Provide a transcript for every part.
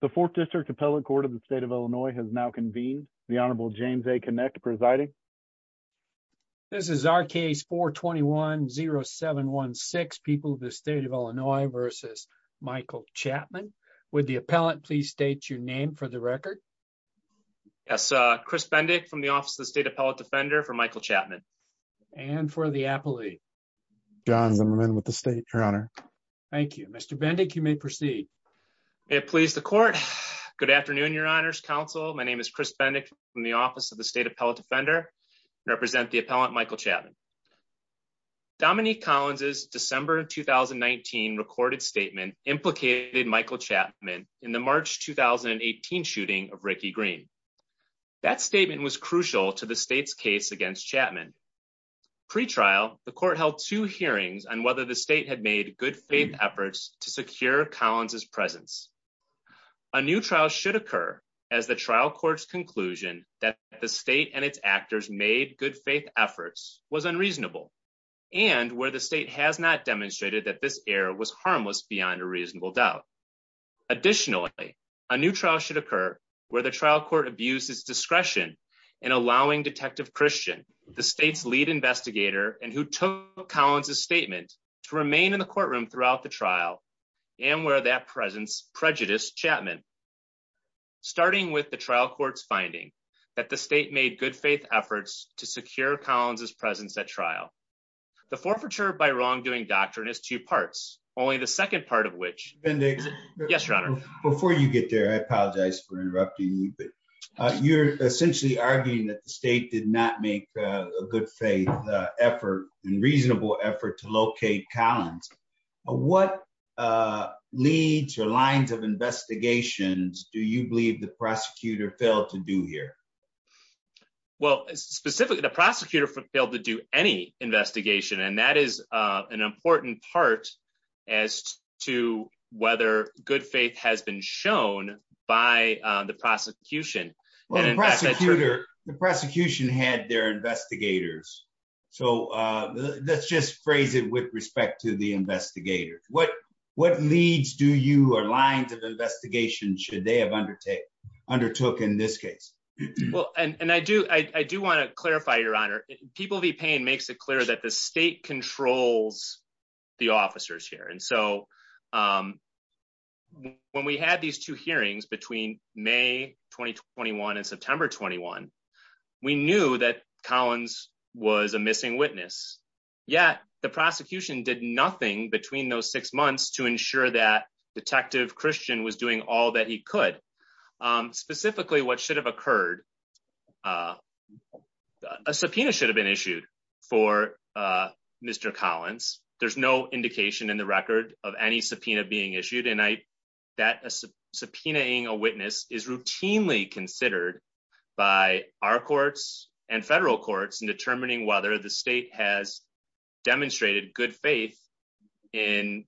the fourth district appellate court of the state of illinois has now convened the honorable james a connect presiding this is our case 4 21 0 7 1 6 people of the state of illinois versus michael chapman would the appellant please state your name for the record yes uh chris bendick from the office of the state appellate defender for michael chapman and for the appellate john zimmerman with the state your honor thank you mr bendick you may proceed may it please the court good afternoon your honors counsel my name is chris bendick from the office of the state appellate defender represent the appellant michael chapman dominique collins's december 2019 recorded statement implicated michael chapman in the march 2018 shooting of ricky green that statement was crucial to the state's case against chapman pre-trial the court held two hearings on whether the state had made good faith efforts to secure collins's presence a new trial should occur as the trial court's conclusion that the state and its actors made good faith efforts was unreasonable and where the state has not demonstrated that this error was harmless beyond a reasonable doubt additionally a new trial should occur where the trial court abuses discretion in allowing detective christian the state's lead investigator and who collins's statement to remain in the courtroom throughout the trial and where that presence prejudiced chapman starting with the trial court's finding that the state made good faith efforts to secure collins's presence at trial the forfeiture by wrongdoing doctrine is two parts only the second part of which yes your honor before you get there i apologize for interrupting you but you're essentially arguing that the state did not make a good faith effort and reasonable effort to locate collins what uh leads your lines of investigations do you believe the prosecutor failed to do here well specifically the prosecutor failed to do any investigation and that is uh an prosecutor the prosecution had their investigators so uh let's just phrase it with respect to the investigators what what leads do you or lines of investigation should they have undertaken undertook in this case well and and i do i i do want to clarify your honor people v pain makes it clear that the state controls the officers here and so um when we had these two hearings between may 2021 and september 21 we knew that collins was a missing witness yet the prosecution did nothing between those six months to ensure that detective christian was doing all that he could um specifically what should have occurred uh a subpoena should have been issued for uh mr collins there's no indication in the record of any subpoena being issued and i that a subpoenaing a witness is routinely considered by our courts and federal courts in determining whether the state has demonstrated good faith in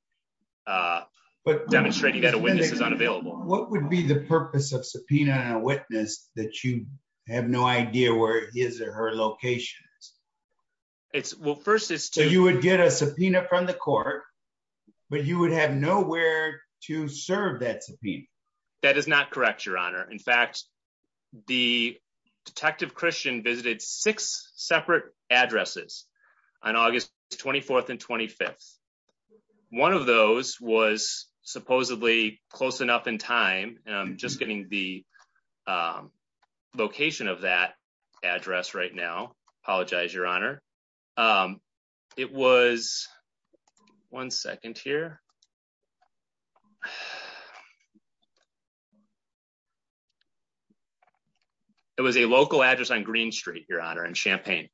uh but demonstrating that a witness is unavailable what would be the purpose of subpoenaing a witness that you have no idea where his or her location is it's well first it's so you would get a subpoena from the court but you would have nowhere to serve that subpoena that is not correct your honor in fact the detective christian visited six separate addresses on august 24th and 25th one of those was supposedly close enough in time and i'm just getting the location of that address right now apologize your honor um it was one second here it was a local address on green street your honor in champaign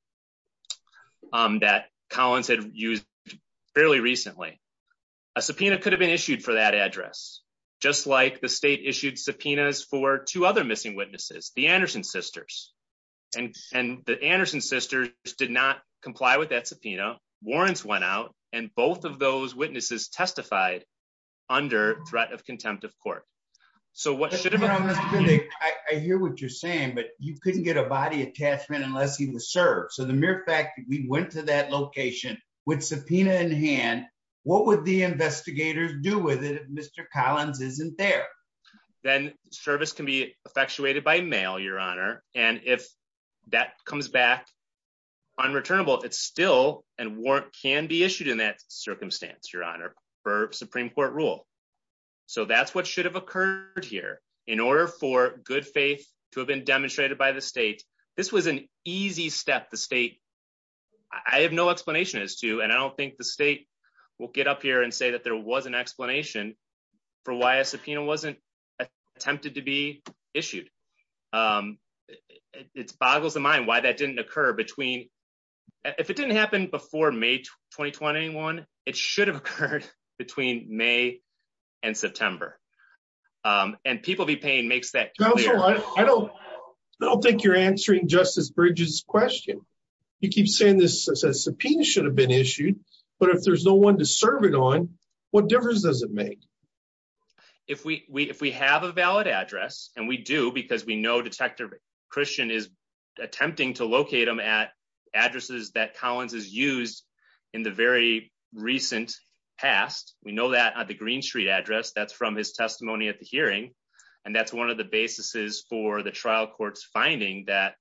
um that collins had used fairly recently a subpoena could have been issued for that address just like the state issued subpoenas for two other missing witnesses the anderson sisters and and the anderson sisters did not comply with that subpoena warrants went out and both of those witnesses testified under threat of contempt of court so what should have been i hear what you're saying but you couldn't get a body attachment unless he was served so the mere fact that we there then service can be effectuated by mail your honor and if that comes back unreturnable it's still and warrant can be issued in that circumstance your honor for supreme court rule so that's what should have occurred here in order for good faith to have been demonstrated by the state this was an easy step the state i have no explanation as to and i don't think the state will get up here and say that there was an explanation for why a subpoena wasn't attempted to be issued um it boggles the mind why that didn't occur between if it didn't happen before may 2021 it should have occurred between may and september um and people be paying makes that i don't i don't think you're answering justice bridges question you keep saying this subpoena should have been issued but if there's no one to serve it on what difference does it make if we we if we have a valid address and we do because we know detective christian is attempting to locate them at addresses that collins has used in the very recent past we know that at the green street address that's from his testimony at the hearing and that's one of the basis for the trial court's finding that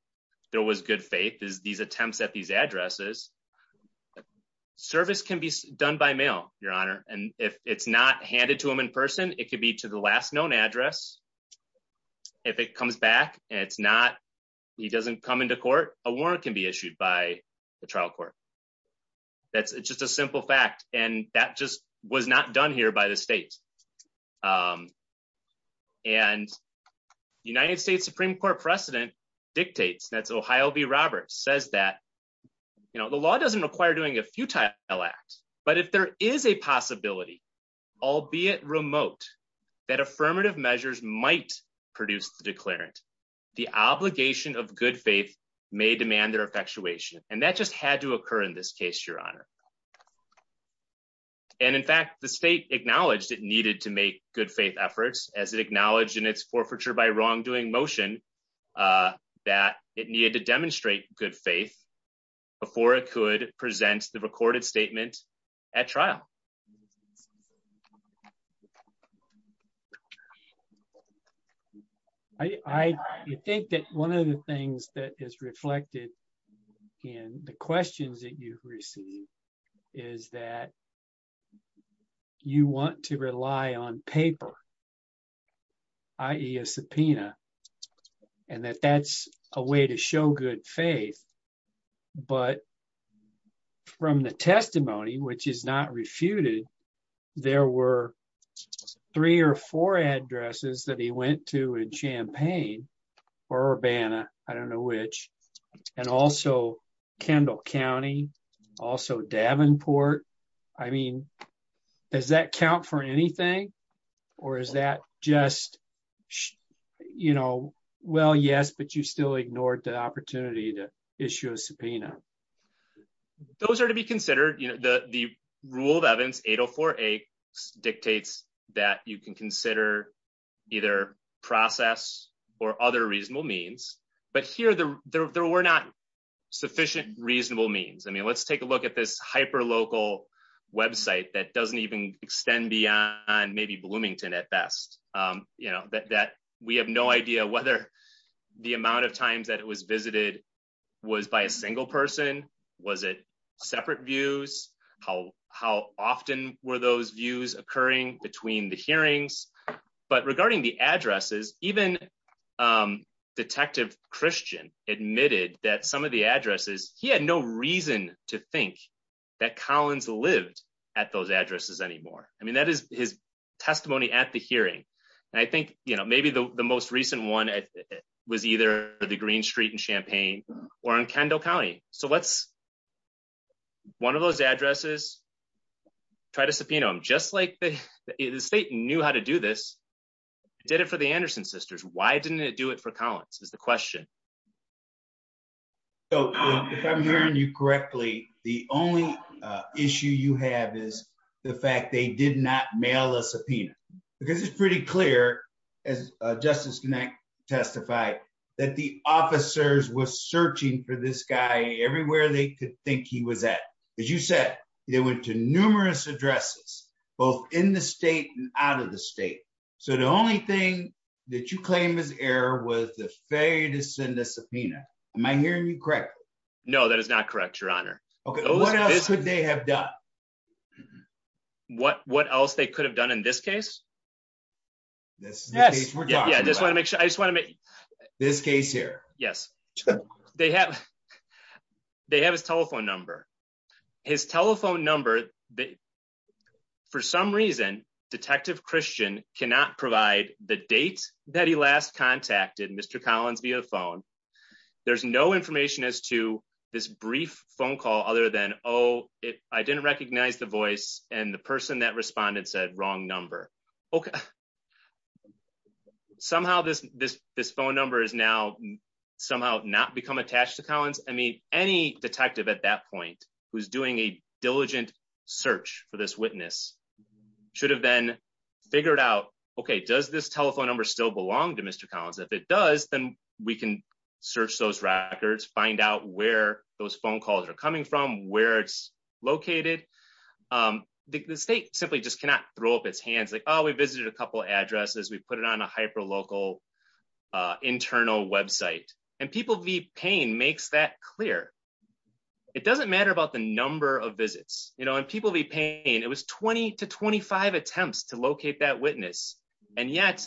there was good faith is these attempts at these addresses service can be done by mail your honor and if it's not handed to him in person it could be to the last known address if it comes back and it's not he doesn't come into court a warrant can be issued by the trial court that's just a simple fact and that just was not done here by the state um and united states supreme court precedent dictates that's ohio v roberts says that you know the law doesn't require doing a futile act but if there is a possibility albeit remote that affirmative measures might produce the declarant the obligation of good faith may demand their effectuation and that just had to occur in this case your honor and in fact the state acknowledged it needed to make good faith efforts as it acknowledged in its forfeiture by wrongdoing motion uh that it needed to demonstrate good faith before it could present the recorded statement at trial i i think that one of the things that is reflected in the questions that you've received is that you want to rely on paper i.e a subpoena and that that's a way to show good faith but from the testimony which is not refuted there were three or four addresses that he went to in port i mean does that count for anything or is that just you know well yes but you still ignored the opportunity to issue a subpoena those are to be considered you know the the rule of evans 804a dictates that you can consider either process or other reasonable means but here the there were not sufficient reasonable means i mean let's take a look at this hyper local website that doesn't even extend beyond maybe bloomington at best um you know that that we have no idea whether the amount of times that it was visited was by a single person was it separate views how how often were those views occurring between the hearings but regarding the addresses even um detective christian admitted that some of the addresses he had no reason to think that collins lived at those addresses anymore i mean that is his testimony at the hearing and i think you know maybe the the most recent one was either the green street in champaign or in kendall county so let's one of those addresses try to subpoena him just like the state knew how to do this did it for the anderson sisters why didn't it do it for collins is the question so if i'm hearing you correctly the only issue you have is the fact they did not mail a subpoena because it's pretty clear as justice connect testified that the officers were searching for this guy everywhere they could think he was at as you said they went to numerous addresses both in the state and out of the state so the only thing that you claim is error was the failure to send a subpoena am i hearing you correctly no that is not correct your honor okay what else could they have done what what else they could have done in this case this yes yeah i just want to make sure i just want to make this case here yes they have they have his telephone number his telephone number the for some reason detective christian cannot provide the date that he last contacted mr collins via phone there's no information as to this brief phone call other than oh it i didn't recognize the voice and the person that responded said wrong number okay somehow this this this phone number is now somehow not become attached to collins i mean any detective at that point who's doing a diligent search for this witness should have been figured out okay does this telephone number still belong to mr collins if it does then we can search those records find out where those phone calls are coming from where it's located um the state simply just cannot throw up its hands like oh we visited a couple addresses we put it on a it doesn't matter about the number of visits you know and people be paying it was 20 to 25 attempts to locate that witness and yet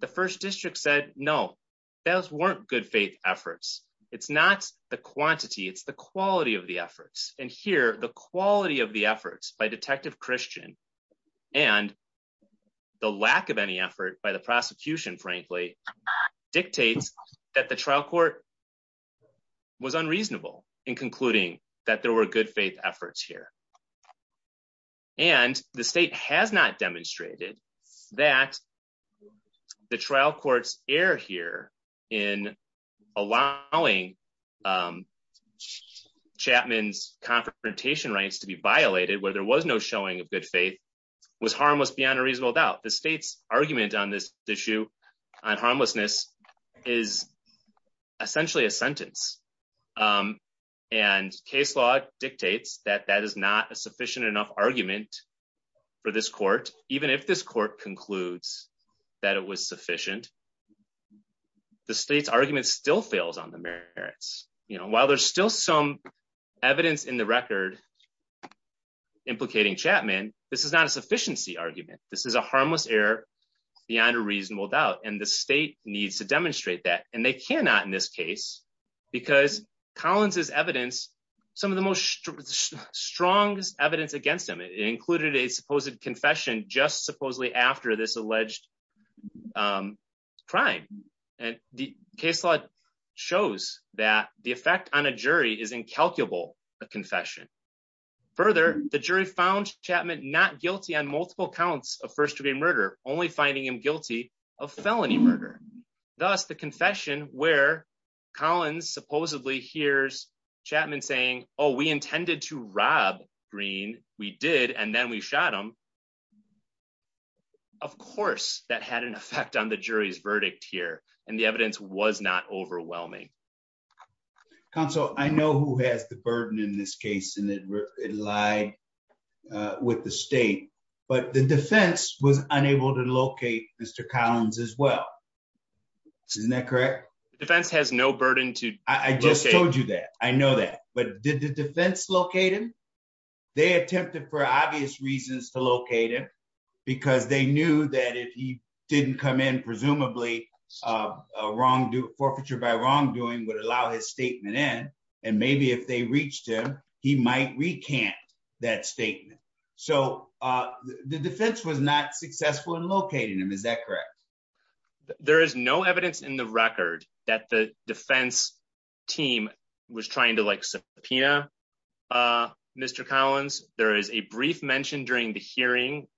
the first district said no those weren't good faith efforts it's not the quantity it's the quality of the efforts and here the quality of the efforts by detective christian and the lack of any effort by the prosecution frankly dictates that the trial court was unreasonable in concluding that there were good faith efforts here and the state has not demonstrated that the trial courts err here in allowing chapman's confrontation rights to be violated where there was no showing of good faith was harmless beyond a reasonable doubt the state's argument on this issue on harmlessness is essentially a sentence and case law dictates that that is not a sufficient enough argument for this court even if this court concludes that it was sufficient the state's argument still fails on the merits you know while there's still some evidence in the record implicating chapman this is not a sufficiency argument this is a harmless error beyond a reasonable doubt and the state needs to demonstrate that and they cannot in this case because collins's evidence some of the most strongest evidence against him it included a supposed confession just supposedly after this alleged um crime and the case law shows that the effect on a jury is incalculable a confession further the jury found chapman not guilty on finding him guilty of felony murder thus the confession where collins supposedly hears chapman saying oh we intended to rob green we did and then we shot him of course that had an effect on the jury's verdict here and the evidence was not overwhelming counsel i know who has the burden in this case and it lied uh with the state but the defense was unable to locate mr collins as well isn't that correct the defense has no burden to i just told you that i know that but did the defense locate him they attempted for obvious reasons to locate him because they knew that if he didn't come in presumably a wrong do forfeiture by wrongdoing would allow his statement in and maybe if they reached him he might recant that statement so uh the defense was not successful in locating him is that correct there is no evidence in the record that the defense team was trying to like subpoena uh mr collins there is a brief mention during the hearing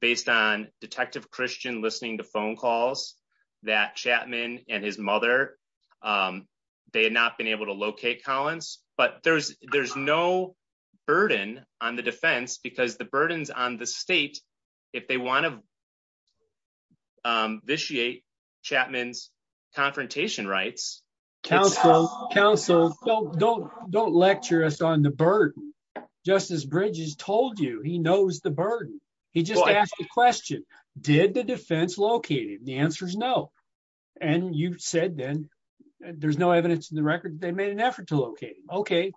based on detective christian listening to phone calls that chapman and his mother um they had not been able to locate collins but there's there's no burden on the defense because the burdens on the state if they want to um vitiate chapman's confrontation rights counsel counsel don't don't don't lecture us on the burden justice bridges told you he knows the burden he just asked the question did the defense located the answer is no and you said then there's no evidence in the record they made an effort to locate okay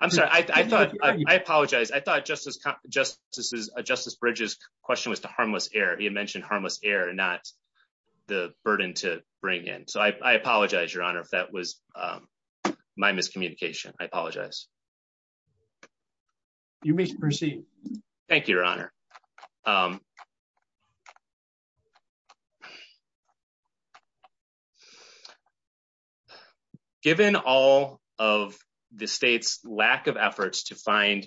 i'm sorry i thought i apologized i thought justice just this is a justice bridges question was to harmless air he had mentioned harmless air not the burden to bring in so i apologize your honor if that was um my miscommunication i apologize you may proceed thank you your honor um given all of the state's lack of efforts to find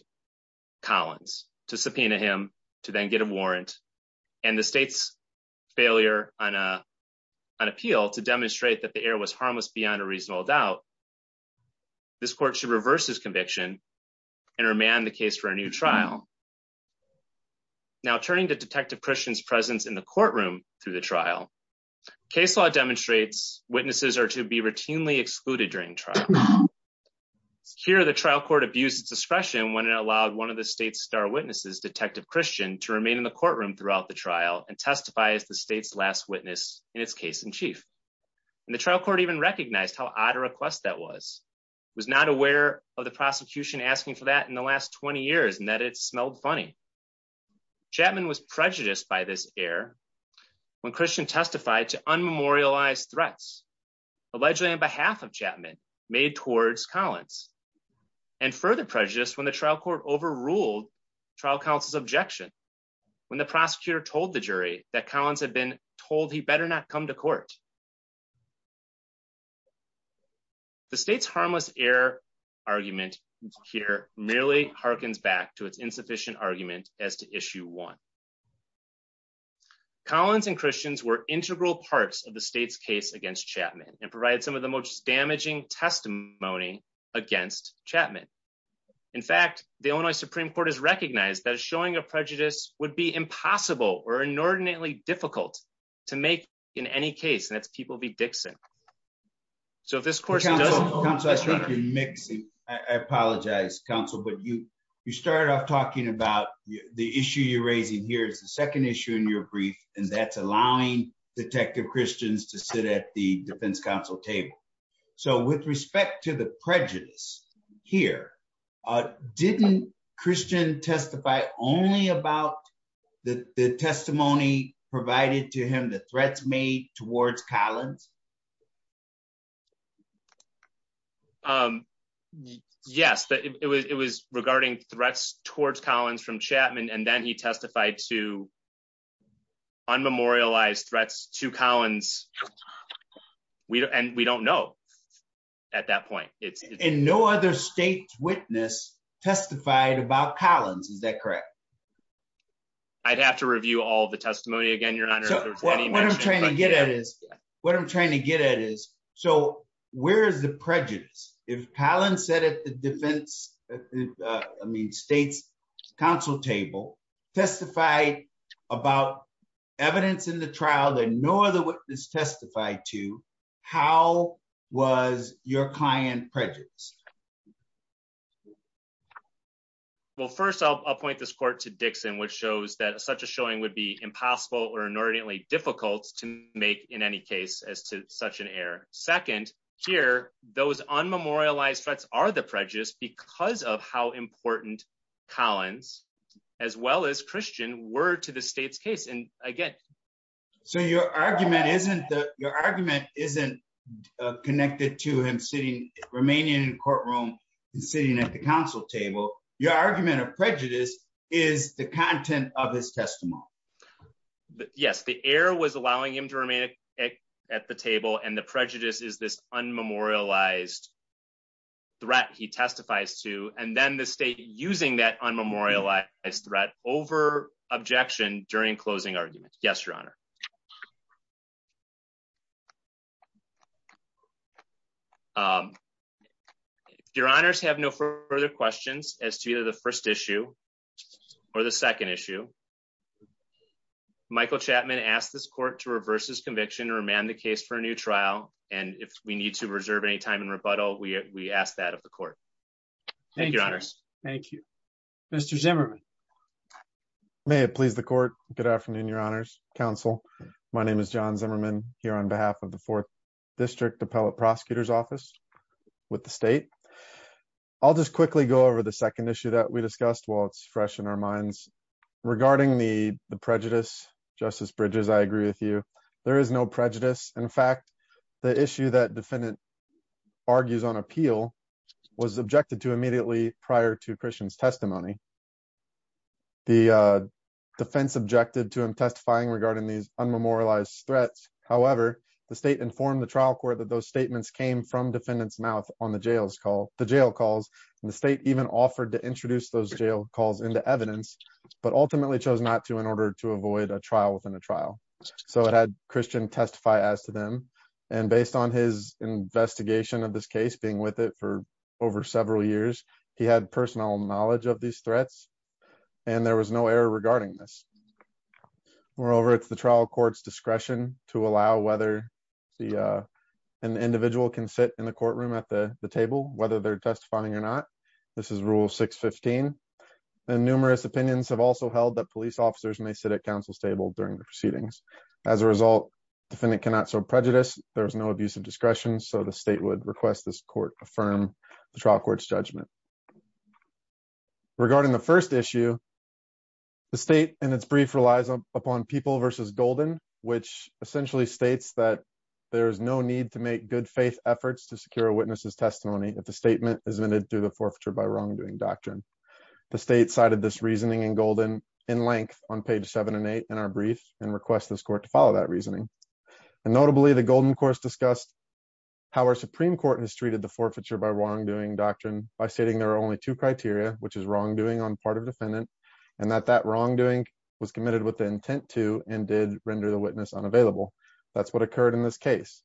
collins to subpoena him to then get a warrant and the state's failure on a an appeal to demonstrate that the air was harmless beyond a reasonable doubt this court should reverse his conviction and remand the case for a new trial now turning to detective christian's presence in the courtroom through the trial case law demonstrates witnesses are to be routinely excluded during trial here the trial court abused its discretion when it allowed one of the state's star witnesses detective christian to remain in the courtroom throughout the trial and testify as the state's last witness in its case in chief and the trial court even recognized how odd a request that was was not aware of the prosecution asking for that in the last 20 years and that it smelled funny chapman was prejudiced by this air when christian testified to unmemorialized threats allegedly on behalf of chapman made towards collins and further prejudice when the trial court overruled trial counsel's objection when the prosecutor told the jury that collins had been told he better not come to court the state's harmless air argument here merely harkens back to its insufficient argument as to issue one collins and christians were integral parts of the state's case against chapman and provided some of the most damaging testimony against chapman in fact the illinois supreme court has recognized that showing a prejudice would be impossible or inordinately difficult to make in any case and that's people be dixon so if this course doesn't come so i think you're mixing i apologize counsel but you you started off talking about the issue you're raising here is the second issue in your brief and that's allowing detective christians to sit at the defense council table so with respect to the prejudice here uh didn't christian testify only about the the testimony provided to him the threats made towards collins um yes but it was it was regarding threats towards collins from chapman and then he testified to unmemorialized threats to collins we and we don't know at that point it's and no other state's i'd have to review all the testimony again you're not what i'm trying to get at is what i'm trying to get at is so where is the prejudice if palin said at the defense i mean state's council table testified about evidence in the trial that no other witness testified to how was your client prejudiced well first i'll point this court to dixon which shows that such a showing would be impossible or inordinately difficult to make in any case as to such an error second here those unmemorialized threats are the prejudice because of how important collins as well as christian were to the state's and again so your argument isn't the your argument isn't connected to him sitting remaining in courtroom sitting at the council table your argument of prejudice is the content of his testimony yes the air was allowing him to remain at the table and the prejudice is this unmemorialized threat he testifies to and then the state using that unmemorialized threat over objection during closing argument yes your honor um your honors have no further questions as to either the first issue or the second issue michael chapman asked this court to reverse his conviction to remand the case for a new trial and if we need to reserve any time in rebuttal we we ask that of the court thank you thank you mr zimmerman may it please the court good afternoon your honors council my name is john zimmerman here on behalf of the fourth district appellate prosecutor's office with the state i'll just quickly go over the second issue that we discussed while it's fresh in our minds regarding the the prejudice justice bridges i agree with you there is no prejudice in fact the issue that defendant argues on appeal was objected to immediately prior to christian's testimony the defense objected to him testifying regarding these unmemorialized threats however the state informed the trial court that those statements came from defendant's mouth on the jails call the jail calls and the state even offered to introduce those jail calls into evidence but ultimately chose not to in order to avoid a trial within a trial so it had christian testify as to them and based on his investigation of this case being with it for over several years he had personal knowledge of these threats and there was no error regarding this moreover it's the trial court's discretion to allow whether the uh an individual can sit in the courtroom at the the table whether they're testifying or not this is rule 615 and numerous opinions have also held that police officers may sit at counsel's table during the proceedings as a result defendant cannot serve prejudice there is no abuse of discretion so the state would request this court affirm the trial court's judgment regarding the first issue the state and its brief relies upon people versus golden which essentially states that there is no need to make good faith efforts to secure a witness's testimony if the statement is admitted through the forfeiture by wrongdoing doctrine the state cited this reasoning in golden in length on this court to follow that reasoning and notably the golden course discussed how our supreme court has treated the forfeiture by wrongdoing doctrine by stating there are only two criteria which is wrongdoing on part of defendant and that that wrongdoing was committed with the intent to and did render the witness unavailable that's what occurred in this case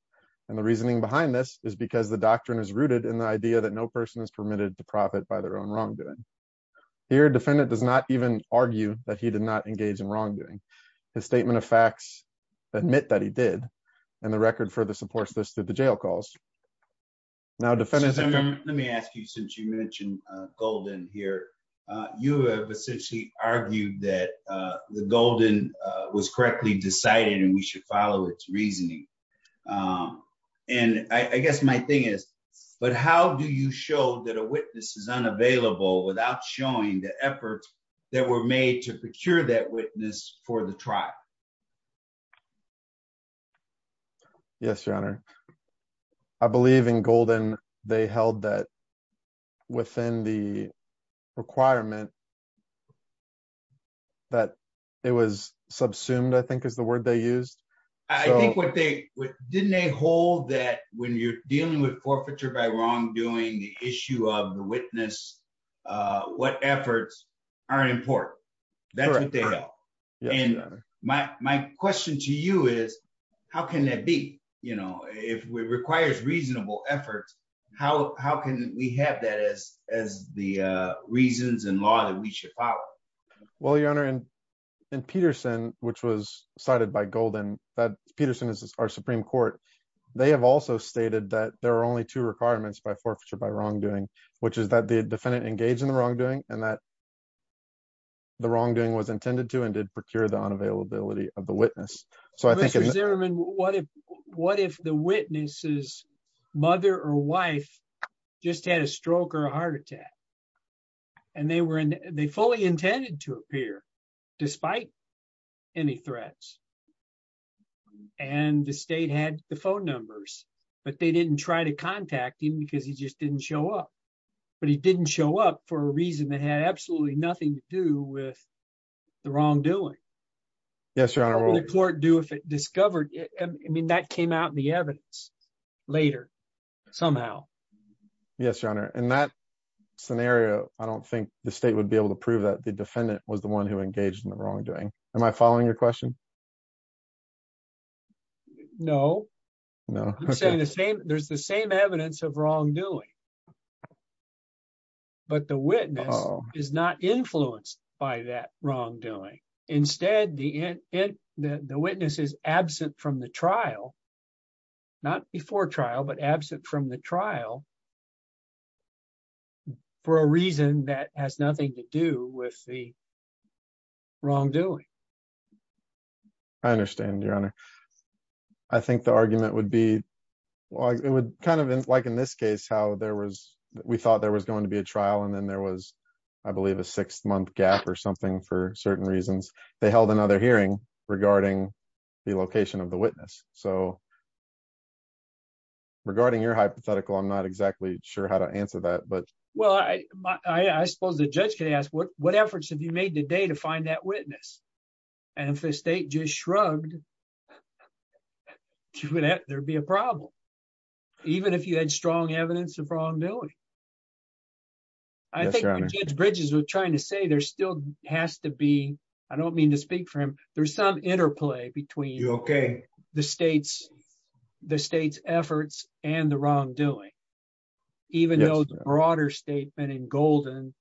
and the reasoning behind this is because the doctrine is rooted in the idea that no person is permitted to profit by their own wrongdoing here defendant does not even argue that he did not engage in wrongdoing his statement of facts admit that he did and the record further supports this that the jail calls now defendants let me ask you since you mentioned uh golden here uh you have essentially argued that uh the golden uh was correctly decided and we should follow its reasoning um and i i guess my thing is but how do you show that a witness is unavailable without showing the efforts that were to procure that witness for the trial yes your honor i believe in golden they held that within the requirement that it was subsumed i think is the word they used i think what they didn't they hold that when you're dealing with forfeiture by wrongdoing the issue of the witness uh what efforts are important that's what they are and my my question to you is how can that be you know if it requires reasonable effort how how can we have that as as the uh reasons and law that we should follow well your honor in in peterson which was cited by golden that peterson is our supreme court they have also stated that there are only two requirements by forfeiture by wrongdoing which is that the defendant engaged in the wrongdoing and that the wrongdoing was intended to and did procure the unavailability of the witness so i think what if what if the witness's mother or wife just had a stroke or a heart attack and they were in they fully intended to appear despite any threats and the state had the phone numbers but they didn't try to contact him because he just didn't show up but he didn't show up for a reason that had absolutely nothing to do with the wrongdoing yes your honor the court do if it discovered i mean that came out in the evidence later somehow yes your honor in that scenario i don't think the state would be able to prove that the defendant was the one who engaged in the wrongdoing am i following your question no no i'm saying the same there's the same evidence of wrongdoing but the witness is not influenced by that wrongdoing instead the in it the witness is absent from the trial not before trial but absent from the trial for a reason that has nothing to do with the wrongdoing i understand your honor i think the argument would be well it would kind of like in this case how there was we thought there was going to be a trial and then there was i believe a six-month gap or something for certain reasons they held another hearing regarding the location of the witness so regarding your hypothetical i'm not exactly sure how to answer that but well i i suppose the judge can ask what what efforts have you made today to find that witness and if the state just shrugged there'd be a problem even if you had strong evidence of wrongdoing i think bridges was trying to say there still has to be i don't mean to speak for him there's some interplay between okay the state's the state's efforts and the wrongdoing even though the broader statement in golden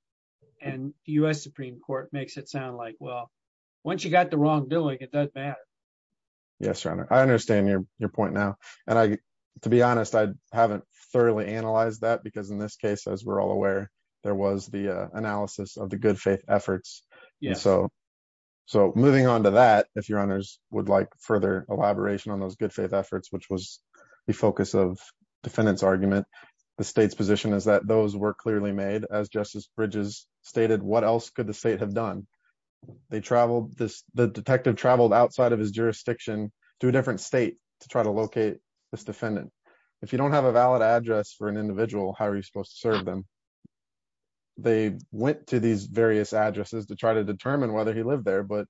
and u.s supreme court makes it sound like well once you got the wrongdoing it doesn't matter yes your honor i understand your your point now and i to be honest i haven't thoroughly analyzed that because in this case as we're all aware there was the analysis of the good faith efforts yeah so so moving on to that if your honors would like further elaboration on those good faith efforts which was the focus of defendant's argument the state's position is that those were clearly made as justice bridges stated what else could the state have done they traveled this the detective traveled outside of his jurisdiction to a different state to try to locate this defendant if you don't have a valid address for an individual how are you supposed to serve them they went to these various addresses to try determine whether he lived there but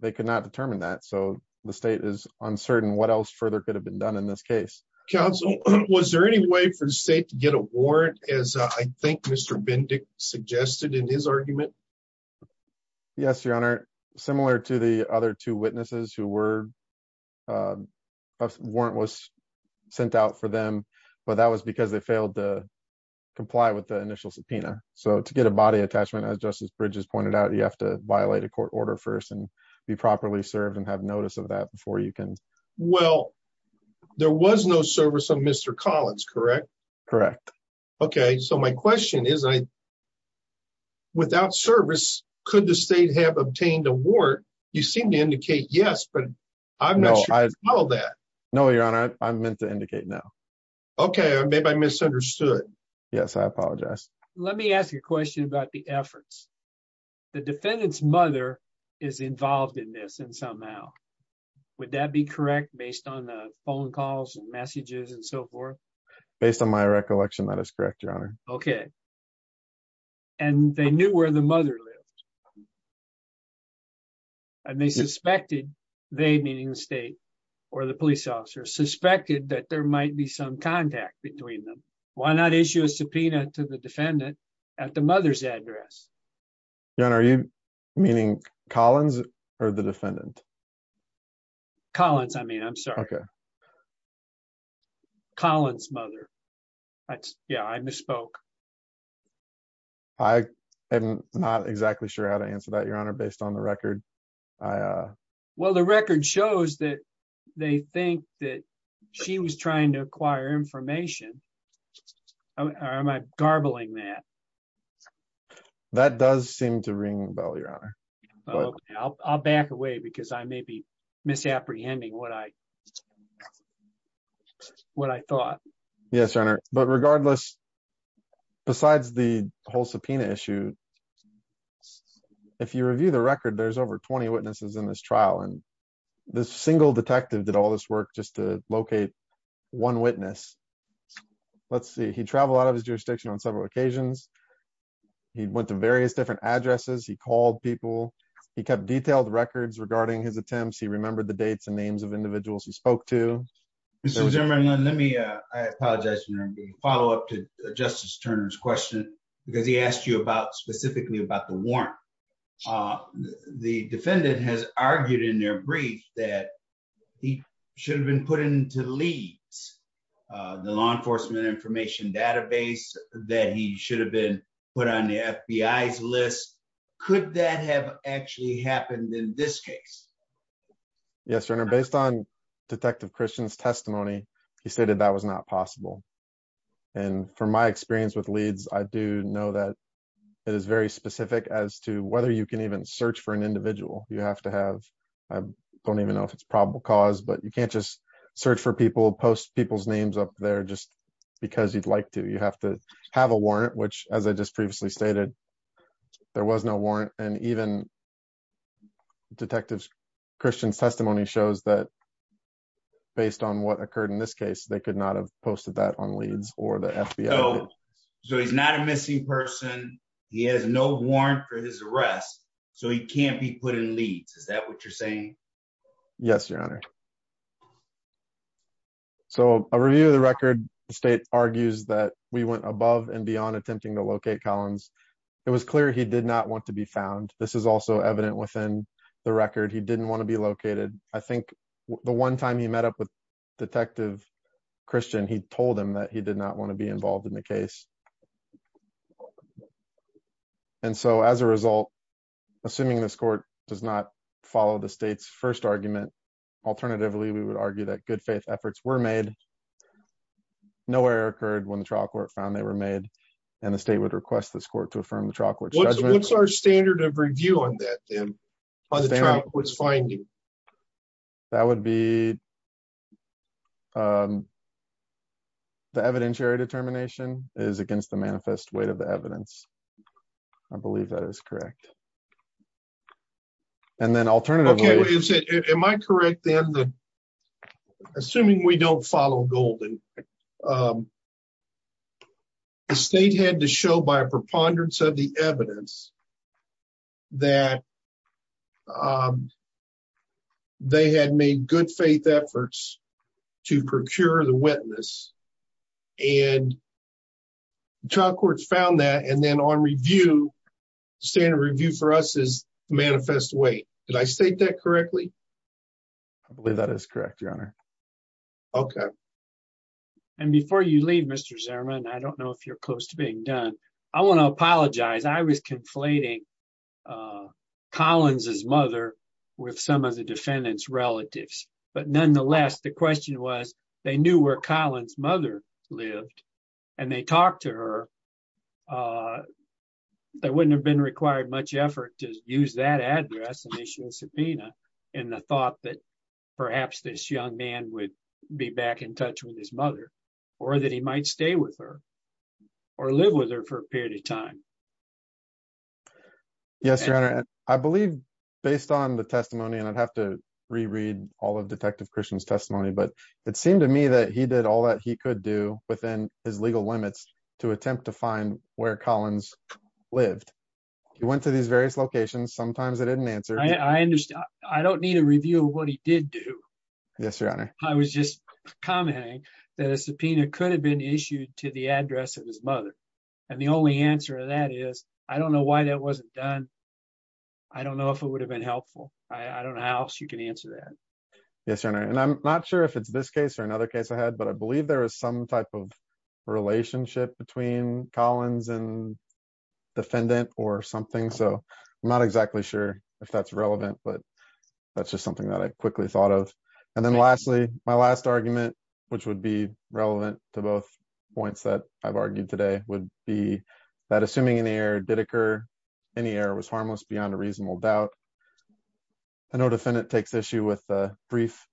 they could not determine that so the state is uncertain what else further could have been done in this case counsel was there any way for the state to get a warrant as i think mr bendick suggested in his argument yes your honor similar to the other two witnesses who were a warrant was sent out for them but that was because they failed to comply with the initial subpoena so to get a body attachment as justice bridges pointed out you have to violate a court order first and be properly served and have notice of that before you can well there was no service of mr collins correct correct okay so my question is i without service could the state have obtained a ward you seem to indicate yes but i'm not sure all that no your honor i'm meant to indicate now okay maybe i misunderstood yes i apologize let me ask you a question about the efforts the defendant's mother is involved in this and somehow would that be correct based on the phone calls and messages and so forth based on my recollection that is correct your honor okay and they knew where the mother lived and they suspected they meaning the state or the police officer suspected that there might be some contact between them why not issue a subpoena to the defendant at the mother's address your honor are you meaning collins or the defendant collins i mean i'm sorry okay collins mother that's yeah i answer that your honor based on the record i uh well the record shows that they think that she was trying to acquire information or am i garbling that that does seem to ring the bell your honor i'll back away because i may be misapprehending what i what i thought yes but regardless besides the whole subpoena issue if you review the record there's over 20 witnesses in this trial and this single detective did all this work just to locate one witness let's see he traveled out of his jurisdiction on several occasions he went to various different addresses he called people he kept detailed records regarding his attempts he remembered the follow-up to justice turner's question because he asked you about specifically about the warrant the defendant has argued in their brief that he should have been put into the leads the law enforcement information database that he should have been put on the fbi's list could that have actually happened in this case yes your honor based on detective christian's testimony it's possible and from my experience with leads i do know that it is very specific as to whether you can even search for an individual you have to have i don't even know if it's probable cause but you can't just search for people post people's names up there just because you'd like to you have to have a warrant which as i just previously stated there was no warrant and even detective christian's testimony shows that based on what occurred in this case they could have posted that on leads or the fbi so he's not a missing person he has no warrant for his arrest so he can't be put in leads is that what you're saying yes your honor so a review of the record the state argues that we went above and beyond attempting to locate collins it was clear he did not want to be found this is also evident within the record he didn't want to be located i think the one time he met up with detective christian he told him that he did not want to be involved in the case and so as a result assuming this court does not follow the state's first argument alternatively we would argue that good faith efforts were made no error occurred when the trial court found they were made and the state would request this court to affirm the trial court what's our standard of um the evidentiary determination is against the manifest weight of the evidence i believe that is correct and then alternatively is it am i correct then assuming we don't follow golden the state had to show by a preponderance of the evidence that um they had made good faith efforts to procure the witness and trial courts found that and then on review standard review for us is manifest weight did i state that correctly i believe that is correct your honor okay and before you leave mr zerman i don't know if you're close to being done i want to apologize i was conflating uh collins's mother with some of the defendant's relatives but nonetheless the question was they knew where collins mother lived and they talked to her uh that wouldn't have been required much effort to use that address initial subpoena in the thought that perhaps this young man would be back in touch with his mother or that he might stay with her or live with her for a period of time yes your honor i believe based on the testimony and i'd have to reread all of detective christian's testimony but it seemed to me that he did all that he could do within his legal limits to attempt to find where collins lived he went to these various locations sometimes i didn't answer i understand i don't need a review of what he did do yes your honor i was just commenting that a subpoena could have been issued to the address of his mother and the only answer of that is i don't know why that wasn't done i don't know if it would have been helpful i i don't know how else you can answer that yes your honor and i'm not sure if it's this case or another case i had but i believe there is some type of relationship between collins and defendant or something so i'm not exactly sure if that's relevant but that's just something that i quickly thought of and then lastly my last argument which would be relevant to both points that i've argued today would be that assuming any error did occur any error was harmless beyond a reasonable doubt i know defendant takes issue with a brief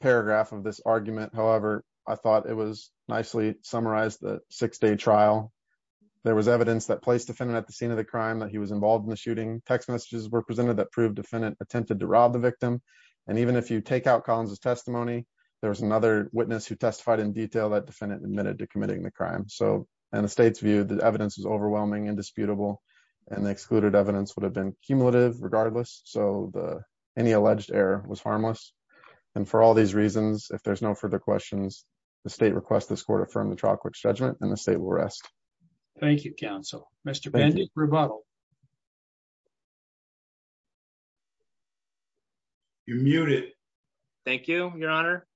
paragraph of this argument however i thought it was nicely summarized the six-day trial there was evidence that placed defendant at the scene of the crime that he was involved in the shooting text messages were presented that proved defendant attempted to rob the victim and even if you take out collins's testimony there was another witness who testified in detail that defendant admitted to committing the crime so and the state's view the evidence is overwhelming indisputable and the excluded evidence would have been cumulative regardless so the any alleged error was harmless and for all these reasons if there's no further questions the state requests this court affirm the trial court's judgment and the state will rest thank you counsel mr rebuttal you're muted thank you your honor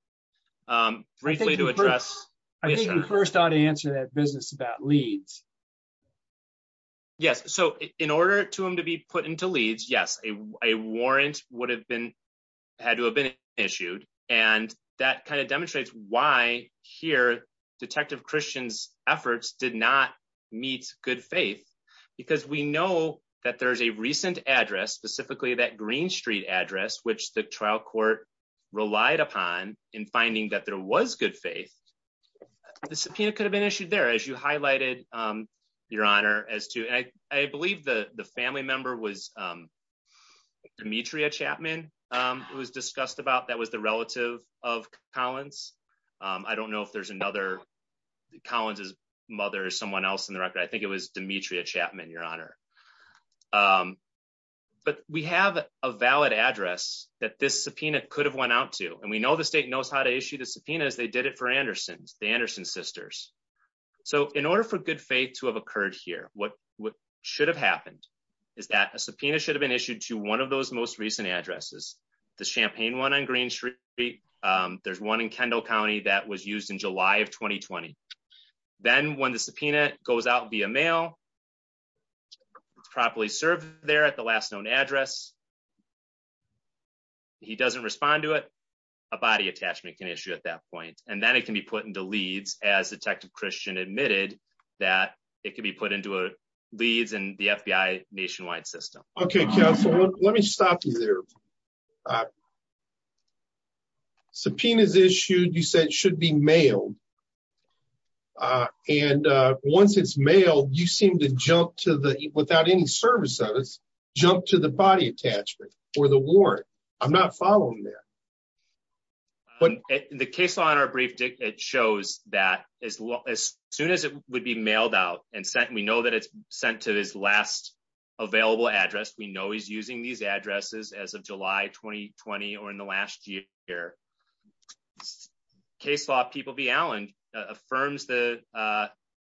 um briefly to address i think we first ought to answer that business about leads yes so in order to him to be put into leads yes a warrant would have been had to have been issued and that kind of demonstrates why here detective christian's not meet good faith because we know that there's a recent address specifically that green street address which the trial court relied upon in finding that there was good faith the subpoena could have been issued there as you highlighted um your honor as to i i believe the the family member was um demetria chapman um it was discussed about that was the relative of collins um i don't know if there's another collins's mother or someone else in the record i think it was demetria chapman your honor um but we have a valid address that this subpoena could have went out to and we know the state knows how to issue the subpoena as they did it for anderson's the anderson sisters so in order for good faith to have occurred here what what should have happened is that a subpoena should have been issued to one of those most recent addresses the champagne one on green um there's one in kendall county that was used in july of 2020 then when the subpoena goes out via mail it's properly served there at the last known address he doesn't respond to it a body attachment can issue at that point and then it can be put into leads as detective christian admitted that it could be put into a leads in the fbi nationwide okay counsel let me stop you there subpoena is issued you said it should be mailed uh and uh once it's mailed you seem to jump to the without any service of us jump to the body attachment or the warrant i'm not following that the case law in our brief it shows that as well as soon as it would be mailed out and sent we know he's using these addresses as of july 2020 or in the last year here case law people v allen affirms the uh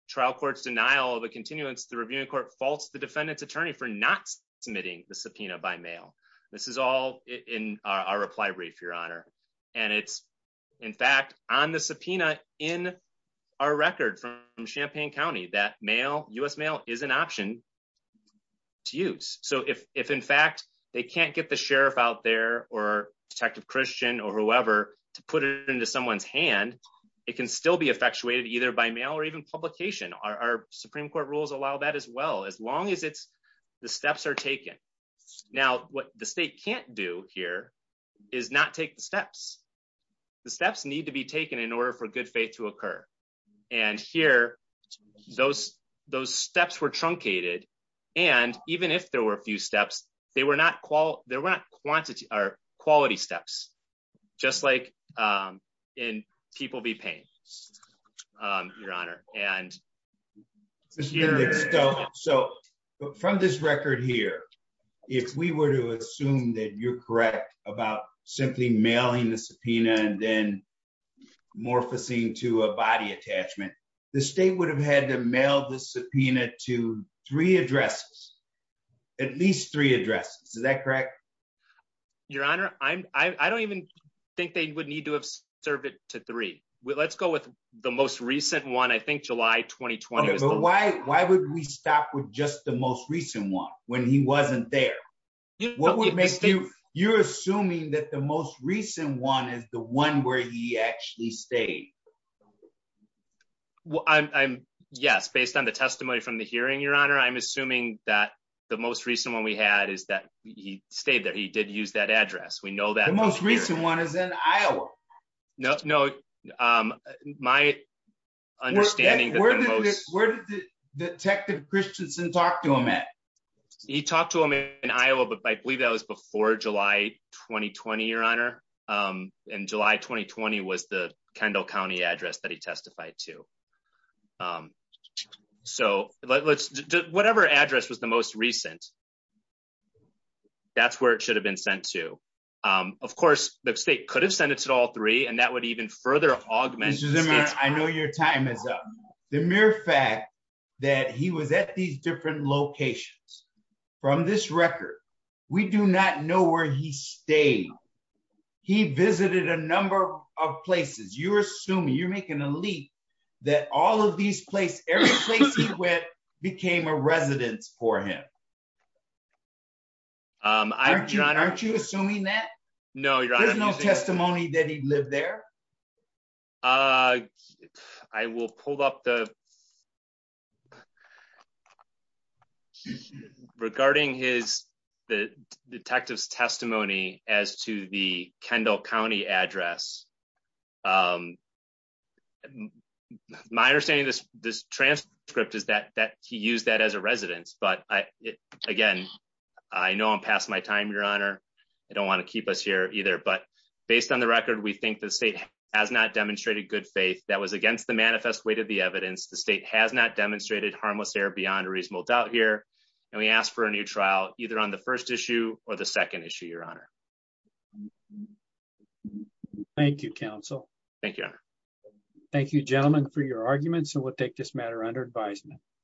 trial court's denial of a continuance the reviewing court faults the defendant's attorney for not submitting the subpoena by mail this is all in our reply brief your honor and it's in fact on the subpoena in our record from champagne county that mail us mail is an option to use so if if in fact they can't get the sheriff out there or detective christian or whoever to put it into someone's hand it can still be effectuated either by mail or even publication our supreme court rules allow that as well as long as it's the steps are taken now what the state can't do here is not take the steps the steps need to be taken in order for good faith to occur and here those those steps were truncated and even if there were a few steps they were not qual there were not quantity or quality steps just like um in people be paying um your honor and so from this record here if we were to assume that you're correct about simply mailing the subpoena and then morphing to a body attachment the state would have had to mail the subpoena to three addresses at least three addresses is that correct your honor i'm i don't even think they would need to have served it to three let's go with the most recent one i think july 2020 but why why would we stop with just the most recent one when he wasn't there what would make you you're assuming that the most recent one is the one where he actually stayed well i'm yes based on the testimony from the hearing your honor i'm assuming that the most recent one we had is that he stayed there he did use that address we know that most recent one is in iowa no no um my understanding where did this where did the detective christiansen talk to him at he talked to him in iowa but i believe that was before july 2020 your honor um in july 2020 was the kendall county address that he testified to um so let's do whatever address was the most recent that's where it should have been sent to um of course the state could have sent it to all three and that would even further augment i know your time is up the mere fact that he was at these different locations from this record we do not know where he stayed he visited a number of places you're assuming you're making a leap that all of these place every place he went became a residence for him um i'm john aren't you assuming that no there's no testimony that he lived there uh i will pull up the regarding his the detective's testimony as to the kendall county address um my understanding this this transcript is that that he used that as a residence but i again i know i'm past my time your honor i don't want to keep us here either but based on the we think the state has not demonstrated good faith that was against the manifest weight of the evidence the state has not demonstrated harmless error beyond a reasonable doubt here and we ask for a new trial either on the first issue or the second issue your honor thank you counsel thank you thank you gentlemen for your arguments and we'll take matter under advisement